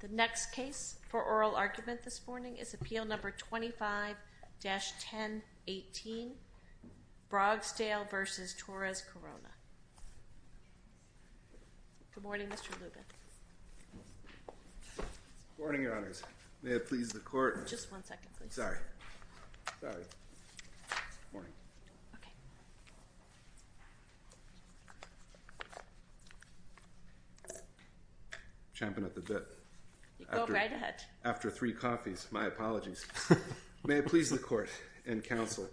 The next case for oral argument this morning is Appeal No. 25-1018, Brogsdale v. Torres-Corona. Good morning, Mr. Lubin. Good morning, Your Honors. May it please the Court. Just one second, please. Sorry. Sorry. Good morning. Okay. Champing at the bit. You go right ahead. After three coffees. My apologies. May it please the Court and Counsel.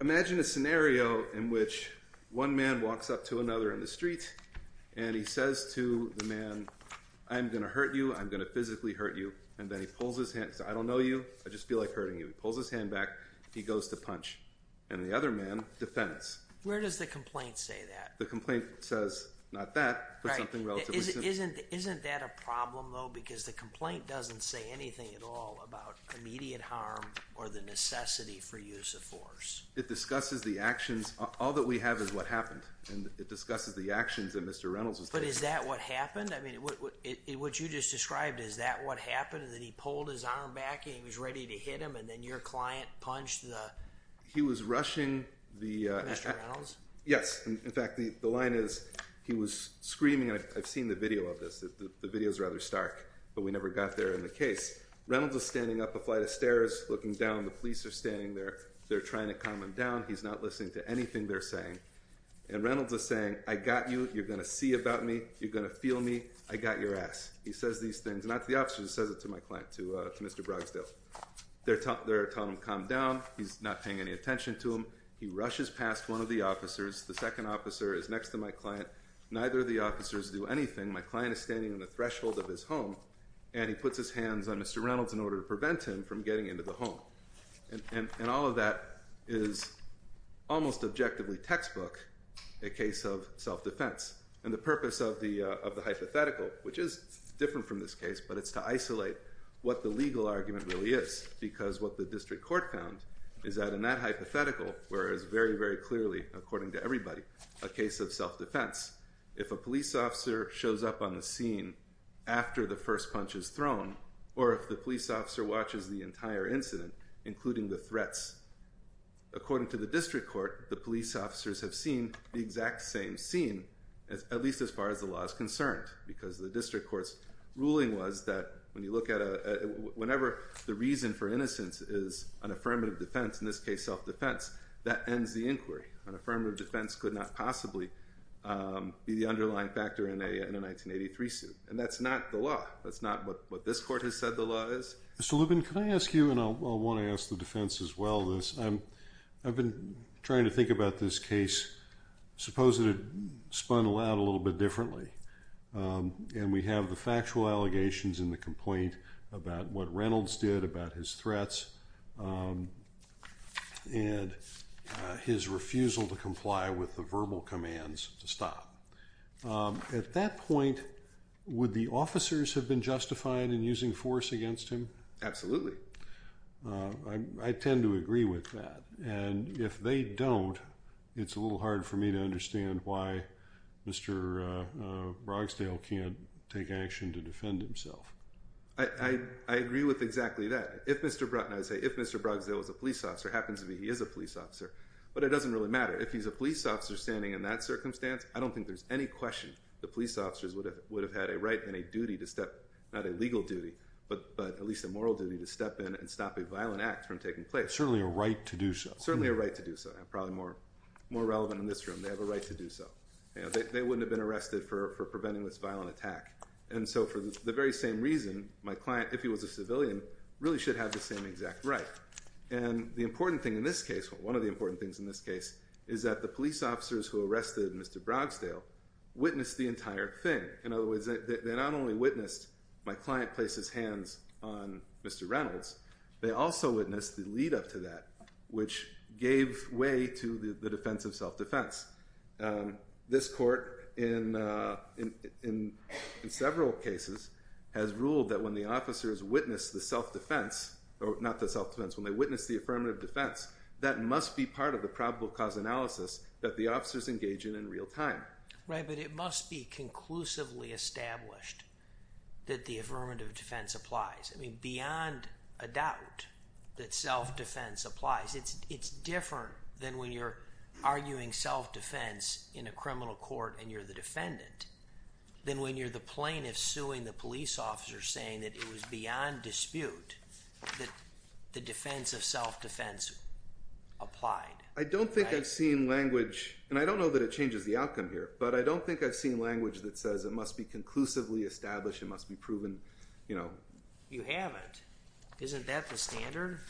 Imagine a scenario in which one man walks up to another in the street, and he says to the man, I'm going to hurt you. I'm going to physically hurt you. And then he pulls his hand. He says, I don't know you. I just feel like hurting you. He pulls his hand back. He goes to punch. And the other man defends. Where does the complaint say that? The complaint says, not that, but something relatively simple. Isn't that a problem, though? Because the complaint doesn't say anything at all about immediate harm or the necessity for use of force. It discusses the actions. All that we have is what happened. And it discusses the actions that Mr. Reynolds was taking. But is that what happened? I mean, what you just described, is that what happened? That he pulled his arm back, and he was ready to hit him, and then your client punched the… He was rushing the… Mr. Reynolds? Yes. In fact, the line is, he was screaming. I've seen the video of this. The video's rather stark. But we never got there in the case. Reynolds was standing up a flight of stairs, looking down. The police are standing there. They're trying to calm him down. He's not listening to anything they're saying. And Reynolds is saying, I got you. You're going to see about me. You're going to feel me. I got your ass. He says these things, not to the officers. He says it to my client, to Mr. Brogsdale. They're telling him to calm down. He's not paying any attention to them. He rushes past one of the officers. The second officer is next to my client. Neither of the officers do anything. My client is standing on the threshold of his home. And he puts his hands on Mr. Reynolds in order to prevent him from getting into the home. And all of that is almost objectively textbook, a case of self-defense. And the purpose of the hypothetical, which is different from this case, but it's to isolate what the legal argument really is. Because what the district court found is that in that hypothetical, where it's very, very clearly, according to everybody, a case of self-defense. If a police officer shows up on the scene after the first punch is thrown, or if the police officer watches the entire incident, including the threats, according to the district court, the police officers have seen the exact same scene, at least as far as the law is concerned. Because the district court's ruling was that whenever the reason for innocence is an affirmative defense, in this case self-defense, that ends the inquiry. An affirmative defense could not possibly be the underlying factor in a 1983 suit. And that's not the law. That's not what this court has said the law is. Mr. Lubin, can I ask you, and I want to ask the defense as well, this. I've been trying to think about this case. Suppose it had spun out a little bit differently. And we have the factual allegations in the complaint about what Reynolds did, about his threats, and his refusal to comply with the verbal commands to stop. At that point, would the officers have been justified in using force against him? Absolutely. I tend to agree with that. And if they don't, it's a little hard for me to understand why Mr. Brogsdale can't take action to defend himself. I agree with exactly that. If Mr. Brogsdale was a police officer, happens to be he is a police officer, but it doesn't really matter. If he's a police officer standing in that circumstance, I don't think there's any question the police officers would have had a right and a duty to step, not a legal duty, but at least a moral duty to step in and stop a violent act from taking place. Certainly a right to do so. Certainly a right to do so. And probably more relevant in this room, they have a right to do so. They wouldn't have been arrested for preventing this violent attack. And so for the very same reason, my client, if he was a civilian, really should have the same exact right. And the important thing in this case, one of the important things in this case, is that the police officers who arrested Mr. Brogsdale witnessed the entire thing. In other words, they not only witnessed my client place his hands on Mr. Reynolds, they also witnessed the lead up to that, which gave way to the defense of self-defense. This court, in several cases, has ruled that when the officers witness the self-defense, or not the self-defense, when they witness the affirmative defense, that must be part of the probable cause analysis that the officers engage in in real time. Right, but it must be conclusively established that the affirmative defense applies. I mean, beyond a doubt that self-defense applies. It's different than when you're arguing self-defense in a criminal court and you're the defendant, than when you're the plaintiff suing the police officer saying that it was beyond dispute that the defense of self-defense applied. I don't think I've seen language, and I don't know that it changes the outcome here, but I don't think I've seen language that says it must be conclusively established, it must be proven, you know. You haven't. Isn't that the standard?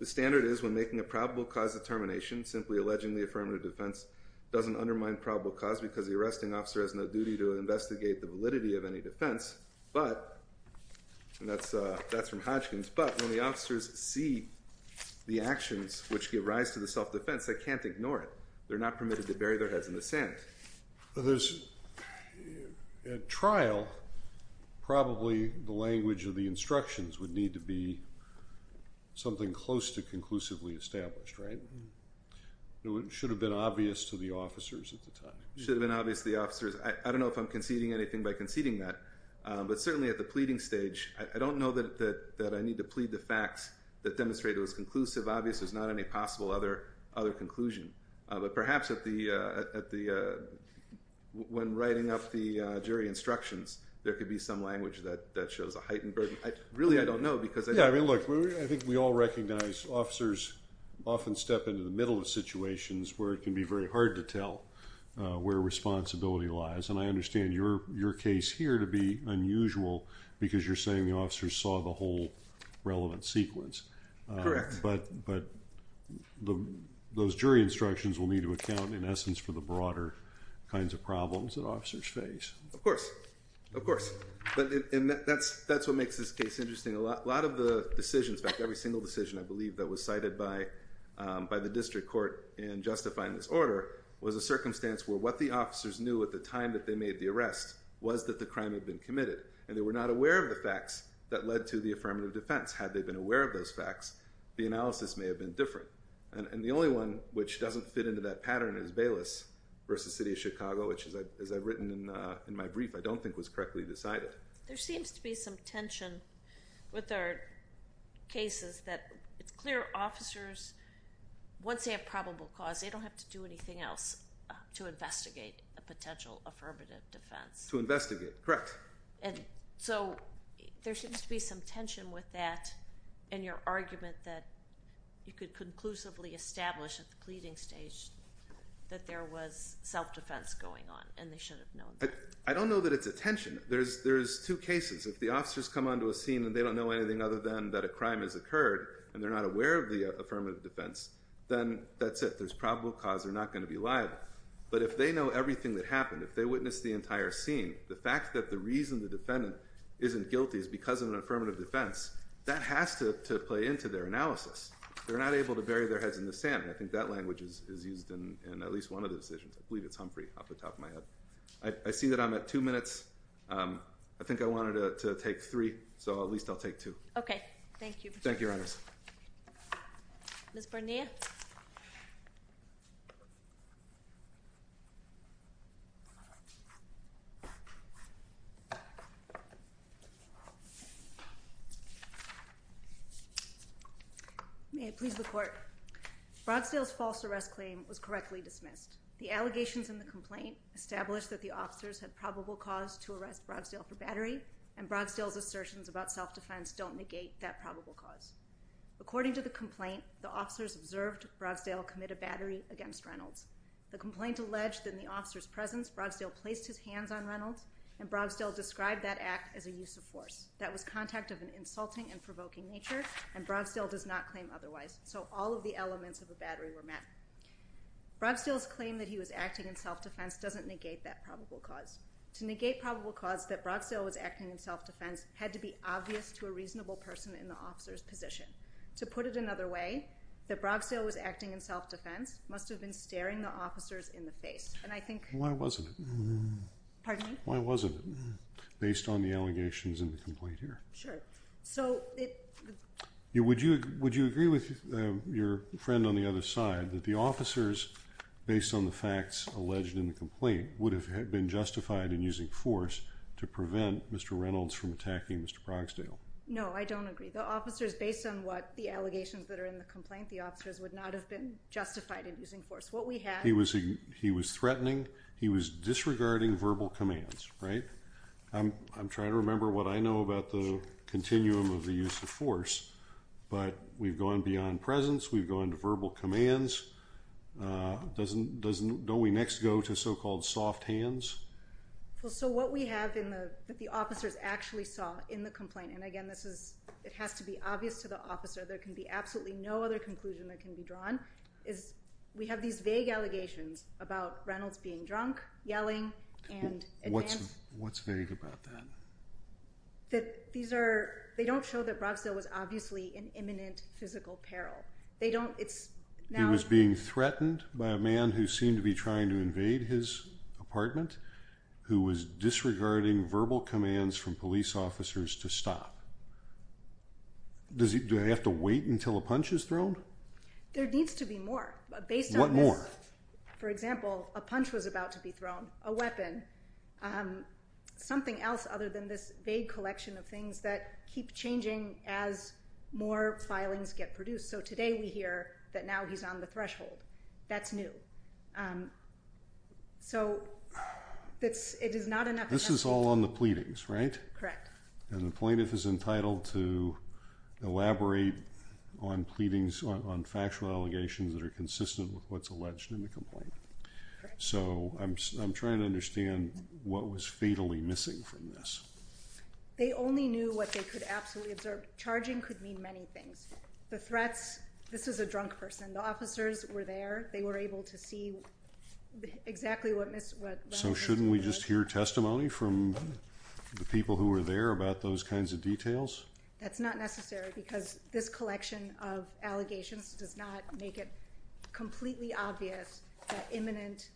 The standard is when making a probable cause determination, simply alleging the affirmative defense doesn't undermine probable cause because the arresting officer has no duty to investigate the validity of any defense. But, and that's from Hodgkins, but when the officers see the actions which give rise to the self-defense, they can't ignore it. They're not permitted to bury their heads in the sand. At trial, probably the language of the instructions would need to be something close to conclusively established, right? It should have been obvious to the officers at the time. It should have been obvious to the officers. I don't know if I'm conceding anything by conceding that. But certainly at the pleading stage, I don't know that I need to plead the facts that demonstrate it was conclusive. Obviously, there's not any possible other conclusion. But perhaps when writing up the jury instructions, there could be some language that shows a heightened burden. Really, I don't know because I don't know. Look, I think we all recognize officers often step into the middle of situations where it can be very hard to tell where responsibility lies. And I understand your case here to be unusual because you're saying the officers saw the whole relevant sequence. Correct. But those jury instructions will need to account, in essence, for the broader kinds of problems that officers face. Of course. Of course. That's what makes this case interesting. A lot of the decisions, in fact, every single decision, I believe, that was cited by the district court in justifying this order was a circumstance where what the officers knew at the time that they made the arrest was that the crime had been committed. And they were not aware of the facts that led to the affirmative defense. Had they been aware of those facts, the analysis may have been different. And the only one which doesn't fit into that pattern is Bayless v. City of Chicago, which, as I've written in my brief, I don't think was correctly decided. There seems to be some tension with our cases that it's clear officers, once they have probable cause, they don't have to do anything else to investigate a potential affirmative defense. To investigate. Correct. So there seems to be some tension with that in your argument that you could conclusively establish at the pleading stage that there was self-defense going on and they should have known that. I don't know that it's a tension. There's two cases. If the officers come onto a scene and they don't know anything other than that a crime has occurred and they're not aware of the affirmative defense, then that's it. There's probable cause. They're not going to be liable. But if they know everything that happened, if they witnessed the entire scene, the fact that the reason the defendant isn't guilty is because of an affirmative defense, that has to play into their analysis. They're not able to bury their heads in the sand. I think that language is used in at least one of the decisions. I believe it's Humphrey off the top of my head. I see that I'm at two minutes. I think I wanted to take three, so at least I'll take two. Okay. Thank you. Thank you, Your Honors. Ms. Barnea? May it please the Court. Brogsdale's false arrest claim was correctly dismissed. The allegations in the complaint established that the officers had probable cause to arrest Brogsdale for battery, and Brogsdale's assertions about self-defense don't negate that probable cause. According to the complaint, the officers observed Brogsdale commit a battery against Reynolds. The complaint alleged that in the officer's presence, Brogsdale placed his hands on Reynolds, and Brogsdale described that act as a use of force. That was contact of an insulting and provoking nature, and Brogsdale does not claim otherwise. So all of the elements of a battery were met. Brogsdale's claim that he was acting in self-defense doesn't negate that probable cause. To negate probable cause that Brogsdale was acting in self-defense had to be obvious to a reasonable person in the officer's position. To put it another way, that Brogsdale was acting in self-defense must have been staring the officers in the face, and I think— Why wasn't it? Pardon me? Why wasn't it, based on the allegations in the complaint here? Sure. So it— Would you agree with your friend on the other side that the officers, based on the facts alleged in the complaint, would have been justified in using force to prevent Mr. Reynolds from attacking Mr. Brogsdale? No, I don't agree. The officers, based on what the allegations that are in the complaint, the officers would not have been justified in using force. What we have— He was threatening. He was disregarding verbal commands, right? I'm trying to remember what I know about the continuum of the use of force, but we've gone beyond presence. We've gone to verbal commands. Don't we next go to so-called soft hands? Well, so what we have in the—that the officers actually saw in the complaint, and again, this is—it has to be obvious to the officer. There can be absolutely no other conclusion that can be drawn, is we have these vague allegations about Reynolds being drunk, yelling, and— What's vague about that? That these are—they don't show that Brogsdale was obviously in imminent physical peril. They don't—it's now— He was being threatened by a man who seemed to be trying to invade his apartment, who was disregarding verbal commands from police officers to stop. Does he—do they have to wait until a punch is thrown? There needs to be more. Based on this— For example, a punch was about to be thrown, a weapon, something else other than this vague collection of things that keep changing as more filings get produced. So today we hear that now he's on the threshold. That's new. So it is not enough— This is all on the pleadings, right? Correct. And the plaintiff is entitled to elaborate on pleadings, on factual allegations that are consistent with what's alleged in the complaint. Correct. So I'm trying to understand what was fatally missing from this. They only knew what they could absolutely observe. Charging could mean many things. The threats—this is a drunk person. The officers were there. They were able to see exactly what— So shouldn't we just hear testimony from the people who were there about those kinds of details? That's not necessary because this collection of allegations does not make it completely obvious that imminent—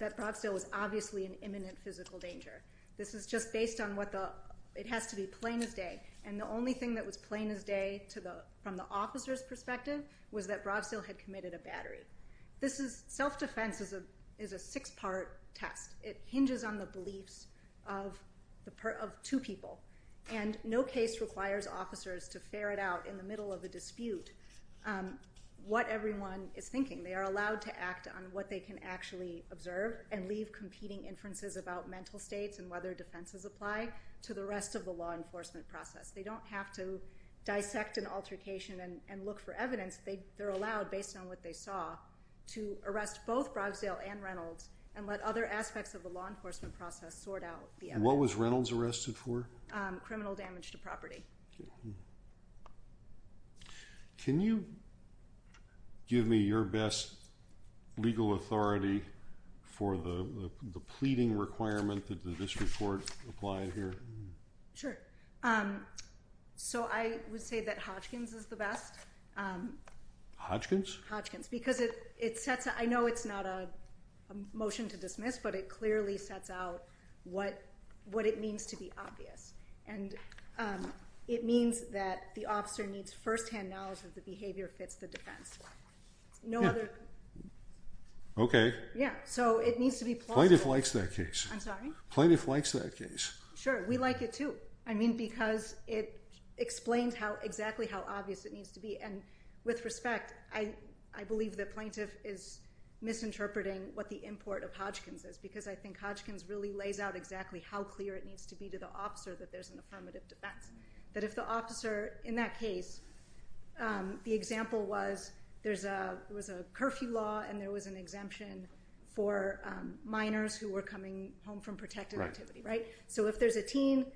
that Bravstow was obviously in imminent physical danger. This is just based on what the—it has to be plain as day. And the only thing that was plain as day from the officer's perspective was that Bravstow had committed a battery. This is—self-defense is a six-part test. It hinges on the beliefs of two people. And no case requires officers to ferret out in the middle of a dispute what everyone is thinking. They are allowed to act on what they can actually observe and leave competing inferences about mental states and whether defenses apply to the rest of the law enforcement process. They don't have to dissect an altercation and look for evidence. They're allowed, based on what they saw, to arrest both Brogsdale and Reynolds and let other aspects of the law enforcement process sort out the evidence. What was Reynolds arrested for? Criminal damage to property. Can you give me your best legal authority for the pleading requirement that this report applied here? Sure. So I would say that Hodgkin's is the best. Hodgkin's? Hodgkin's, because it sets—I know it's not a motion to dismiss, but it clearly sets out what it means to be obvious. And it means that the officer needs firsthand knowledge that the behavior fits the defense. No other— Okay. Yeah, so it needs to be plausible. Plaintiff likes that case. I'm sorry? Plaintiff likes that case. Sure. We like it, too. I mean, because it explains exactly how obvious it needs to be. And with respect, I believe the plaintiff is misinterpreting what the import of Hodgkin's is, because I think Hodgkin's really lays out exactly how clear it needs to be to the officer that there's an affirmative defense. That if the officer in that case—the example was there was a curfew law and there was an exemption for minors who were coming home from protective activity, right? So if there's a teen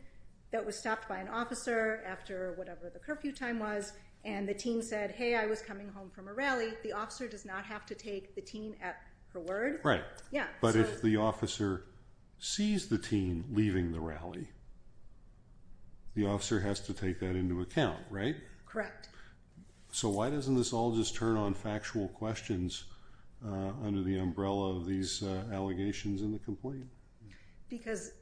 that was stopped by an officer after whatever the curfew time was and the teen said, hey, I was coming home from a rally, the officer does not have to take the teen at her word. Right. Yeah. But if the officer sees the teen leaving the rally, the officer has to take that into account, right? Correct. So why doesn't this all just turn on factual questions under the umbrella of these allegations in the complaint? Because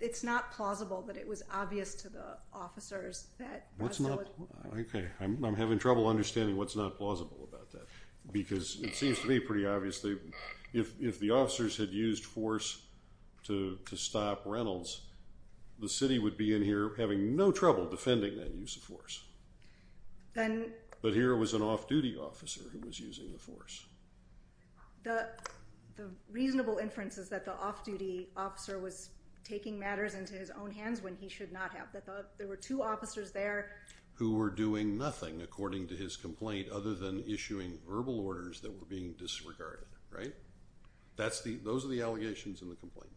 it's not plausible that it was obvious to the officers that— What's not—okay. I'm having trouble understanding what's not plausible about that, because it seems to me pretty obviously if the officers had used force to stop Reynolds, the city would be in here having no trouble defending that use of force. Then— But here it was an off-duty officer who was using the force. The reasonable inference is that the off-duty officer was taking matters into his own hands when he should not have. There were two officers there— Who were doing nothing, according to his complaint, other than issuing verbal orders that were being disregarded, right? Those are the allegations in the complaint.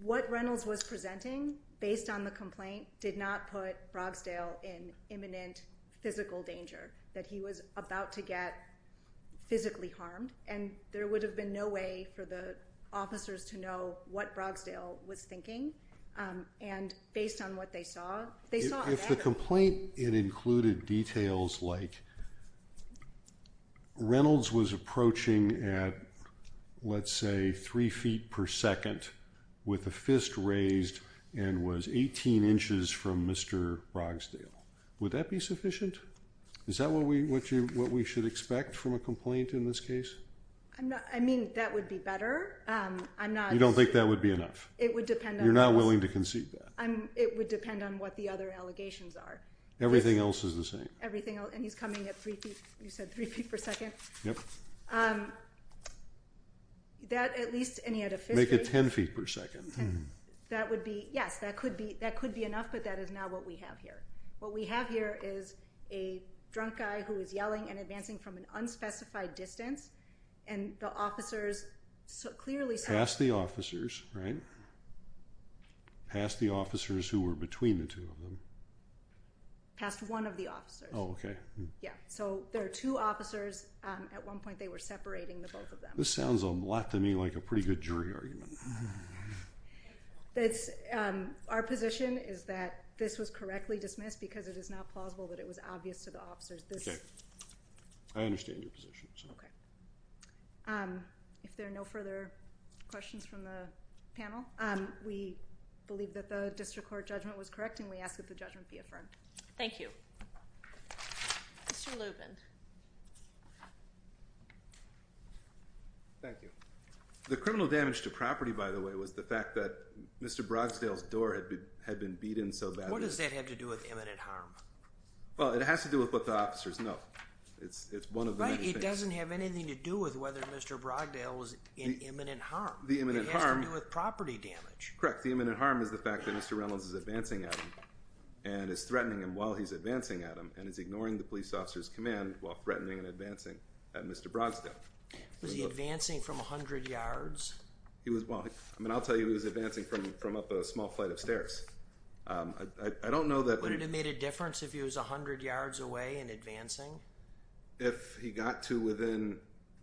What Reynolds was presenting, based on the complaint, did not put Brogsdale in imminent physical danger, that he was about to get physically harmed, and there would have been no way for the officers to know what Brogsdale was thinking. And based on what they saw— If the complaint included details like Reynolds was approaching at, let's say, three feet per second with a fist raised and was 18 inches from Mr. Brogsdale, would that be sufficient? Is that what we should expect from a complaint in this case? I mean, that would be better. I'm not— You don't think that would be enough? It would depend on— You're not willing to concede that? It would depend on what the other allegations are. Everything else is the same? Everything else. And he's coming at three feet—you said three feet per second? Yep. That, at least, and he had a fist raised— Make it 10 feet per second. That would be—yes, that could be enough, but that is not what we have here. What we have here is a drunk guy who is yelling and advancing from an unspecified distance, and the officers clearly saw— Past the officers, right? Past the officers who were between the two of them? Past one of the officers. Oh, okay. Yeah, so there are two officers. At one point, they were separating the both of them. This sounds a lot to me like a pretty good jury argument. Our position is that this was correctly dismissed because it is not plausible that it was obvious to the officers. Okay. I understand your position. If there are no further questions from the panel, we believe that the district court judgment was correct, and we ask that the judgment be affirmed. Thank you. Mr. Lubin. Thank you. The criminal damage to property, by the way, was the fact that Mr. Brogsdale's door had been beaten so badly— What does that have to do with imminent harm? Well, it has to do with what the officers know. It's one of the many things— But it doesn't have anything to do with whether Mr. Brogsdale was in imminent harm. The imminent harm— It has to do with property damage. Correct. The imminent harm is the fact that Mr. Reynolds is advancing at him and is threatening him while he's advancing at him, and is ignoring the police officer's command while threatening and advancing at Mr. Brogsdale. Was he advancing from 100 yards? Well, I'll tell you he was advancing from up a small flight of stairs. I don't know that— Would it have made a difference if he was 100 yards away and advancing? If he got to within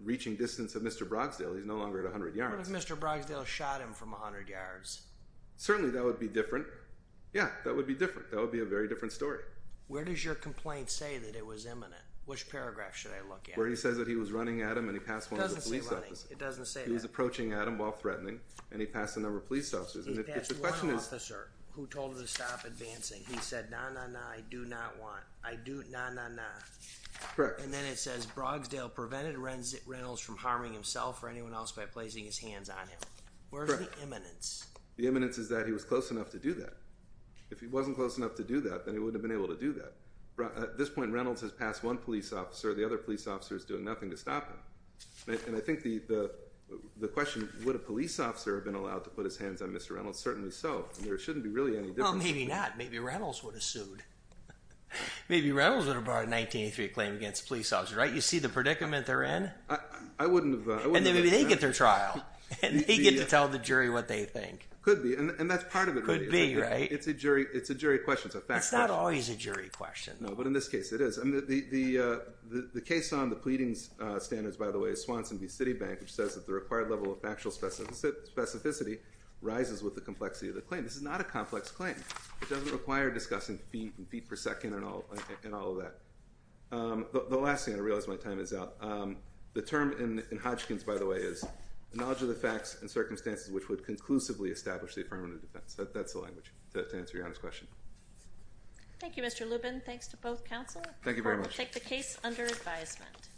reaching distance of Mr. Brogsdale, he's no longer at 100 yards. What if Mr. Brogsdale shot him from 100 yards? Certainly that would be different. Yeah, that would be different. That would be a very different story. Where does your complaint say that it was imminent? Which paragraph should I look at? Where he says that he was running at him and he passed one of the police officers. It doesn't say running. It doesn't say that. He was approaching at him while threatening, and he passed a number of police officers. He passed one officer who told him to stop advancing. He said, nah, nah, nah, I do not want. I do—nah, nah, nah. Correct. And then it says Brogsdale prevented Reynolds from harming himself or anyone else by placing his hands on him. Correct. Where's the imminence? The imminence is that he was close enough to do that. If he wasn't close enough to do that, then he wouldn't have been able to do that. At this point, Reynolds has passed one police officer. The other police officer is doing nothing to stop him. And I think the question, would a police officer have been allowed to put his hands on Mr. Reynolds? Certainly so. There shouldn't be really any difference. Well, maybe not. Maybe Reynolds would have sued. Maybe Reynolds would have brought a 1983 claim against a police officer, right? You see the predicament they're in? I wouldn't have— And then maybe they get their trial, and they get to tell the jury what they think. Could be, and that's part of it. Could be, right? It's a jury question. It's a fact question. It's always a jury question. No, but in this case, it is. The case on the pleadings standards, by the way, is Swanson v. Citibank, which says that the required level of factual specificity rises with the complexity of the claim. This is not a complex claim. It doesn't require discussing feet and feet per second and all of that. The last thing, I realize my time is out. The term in Hodgkin's, by the way, is the knowledge of the facts and circumstances which would conclusively establish the affirmative defense. That's the language to answer Your Honor's question. Thank you, Mr. Lubin. Thanks to both counsel. Thank you very much. I will take the case under advisement.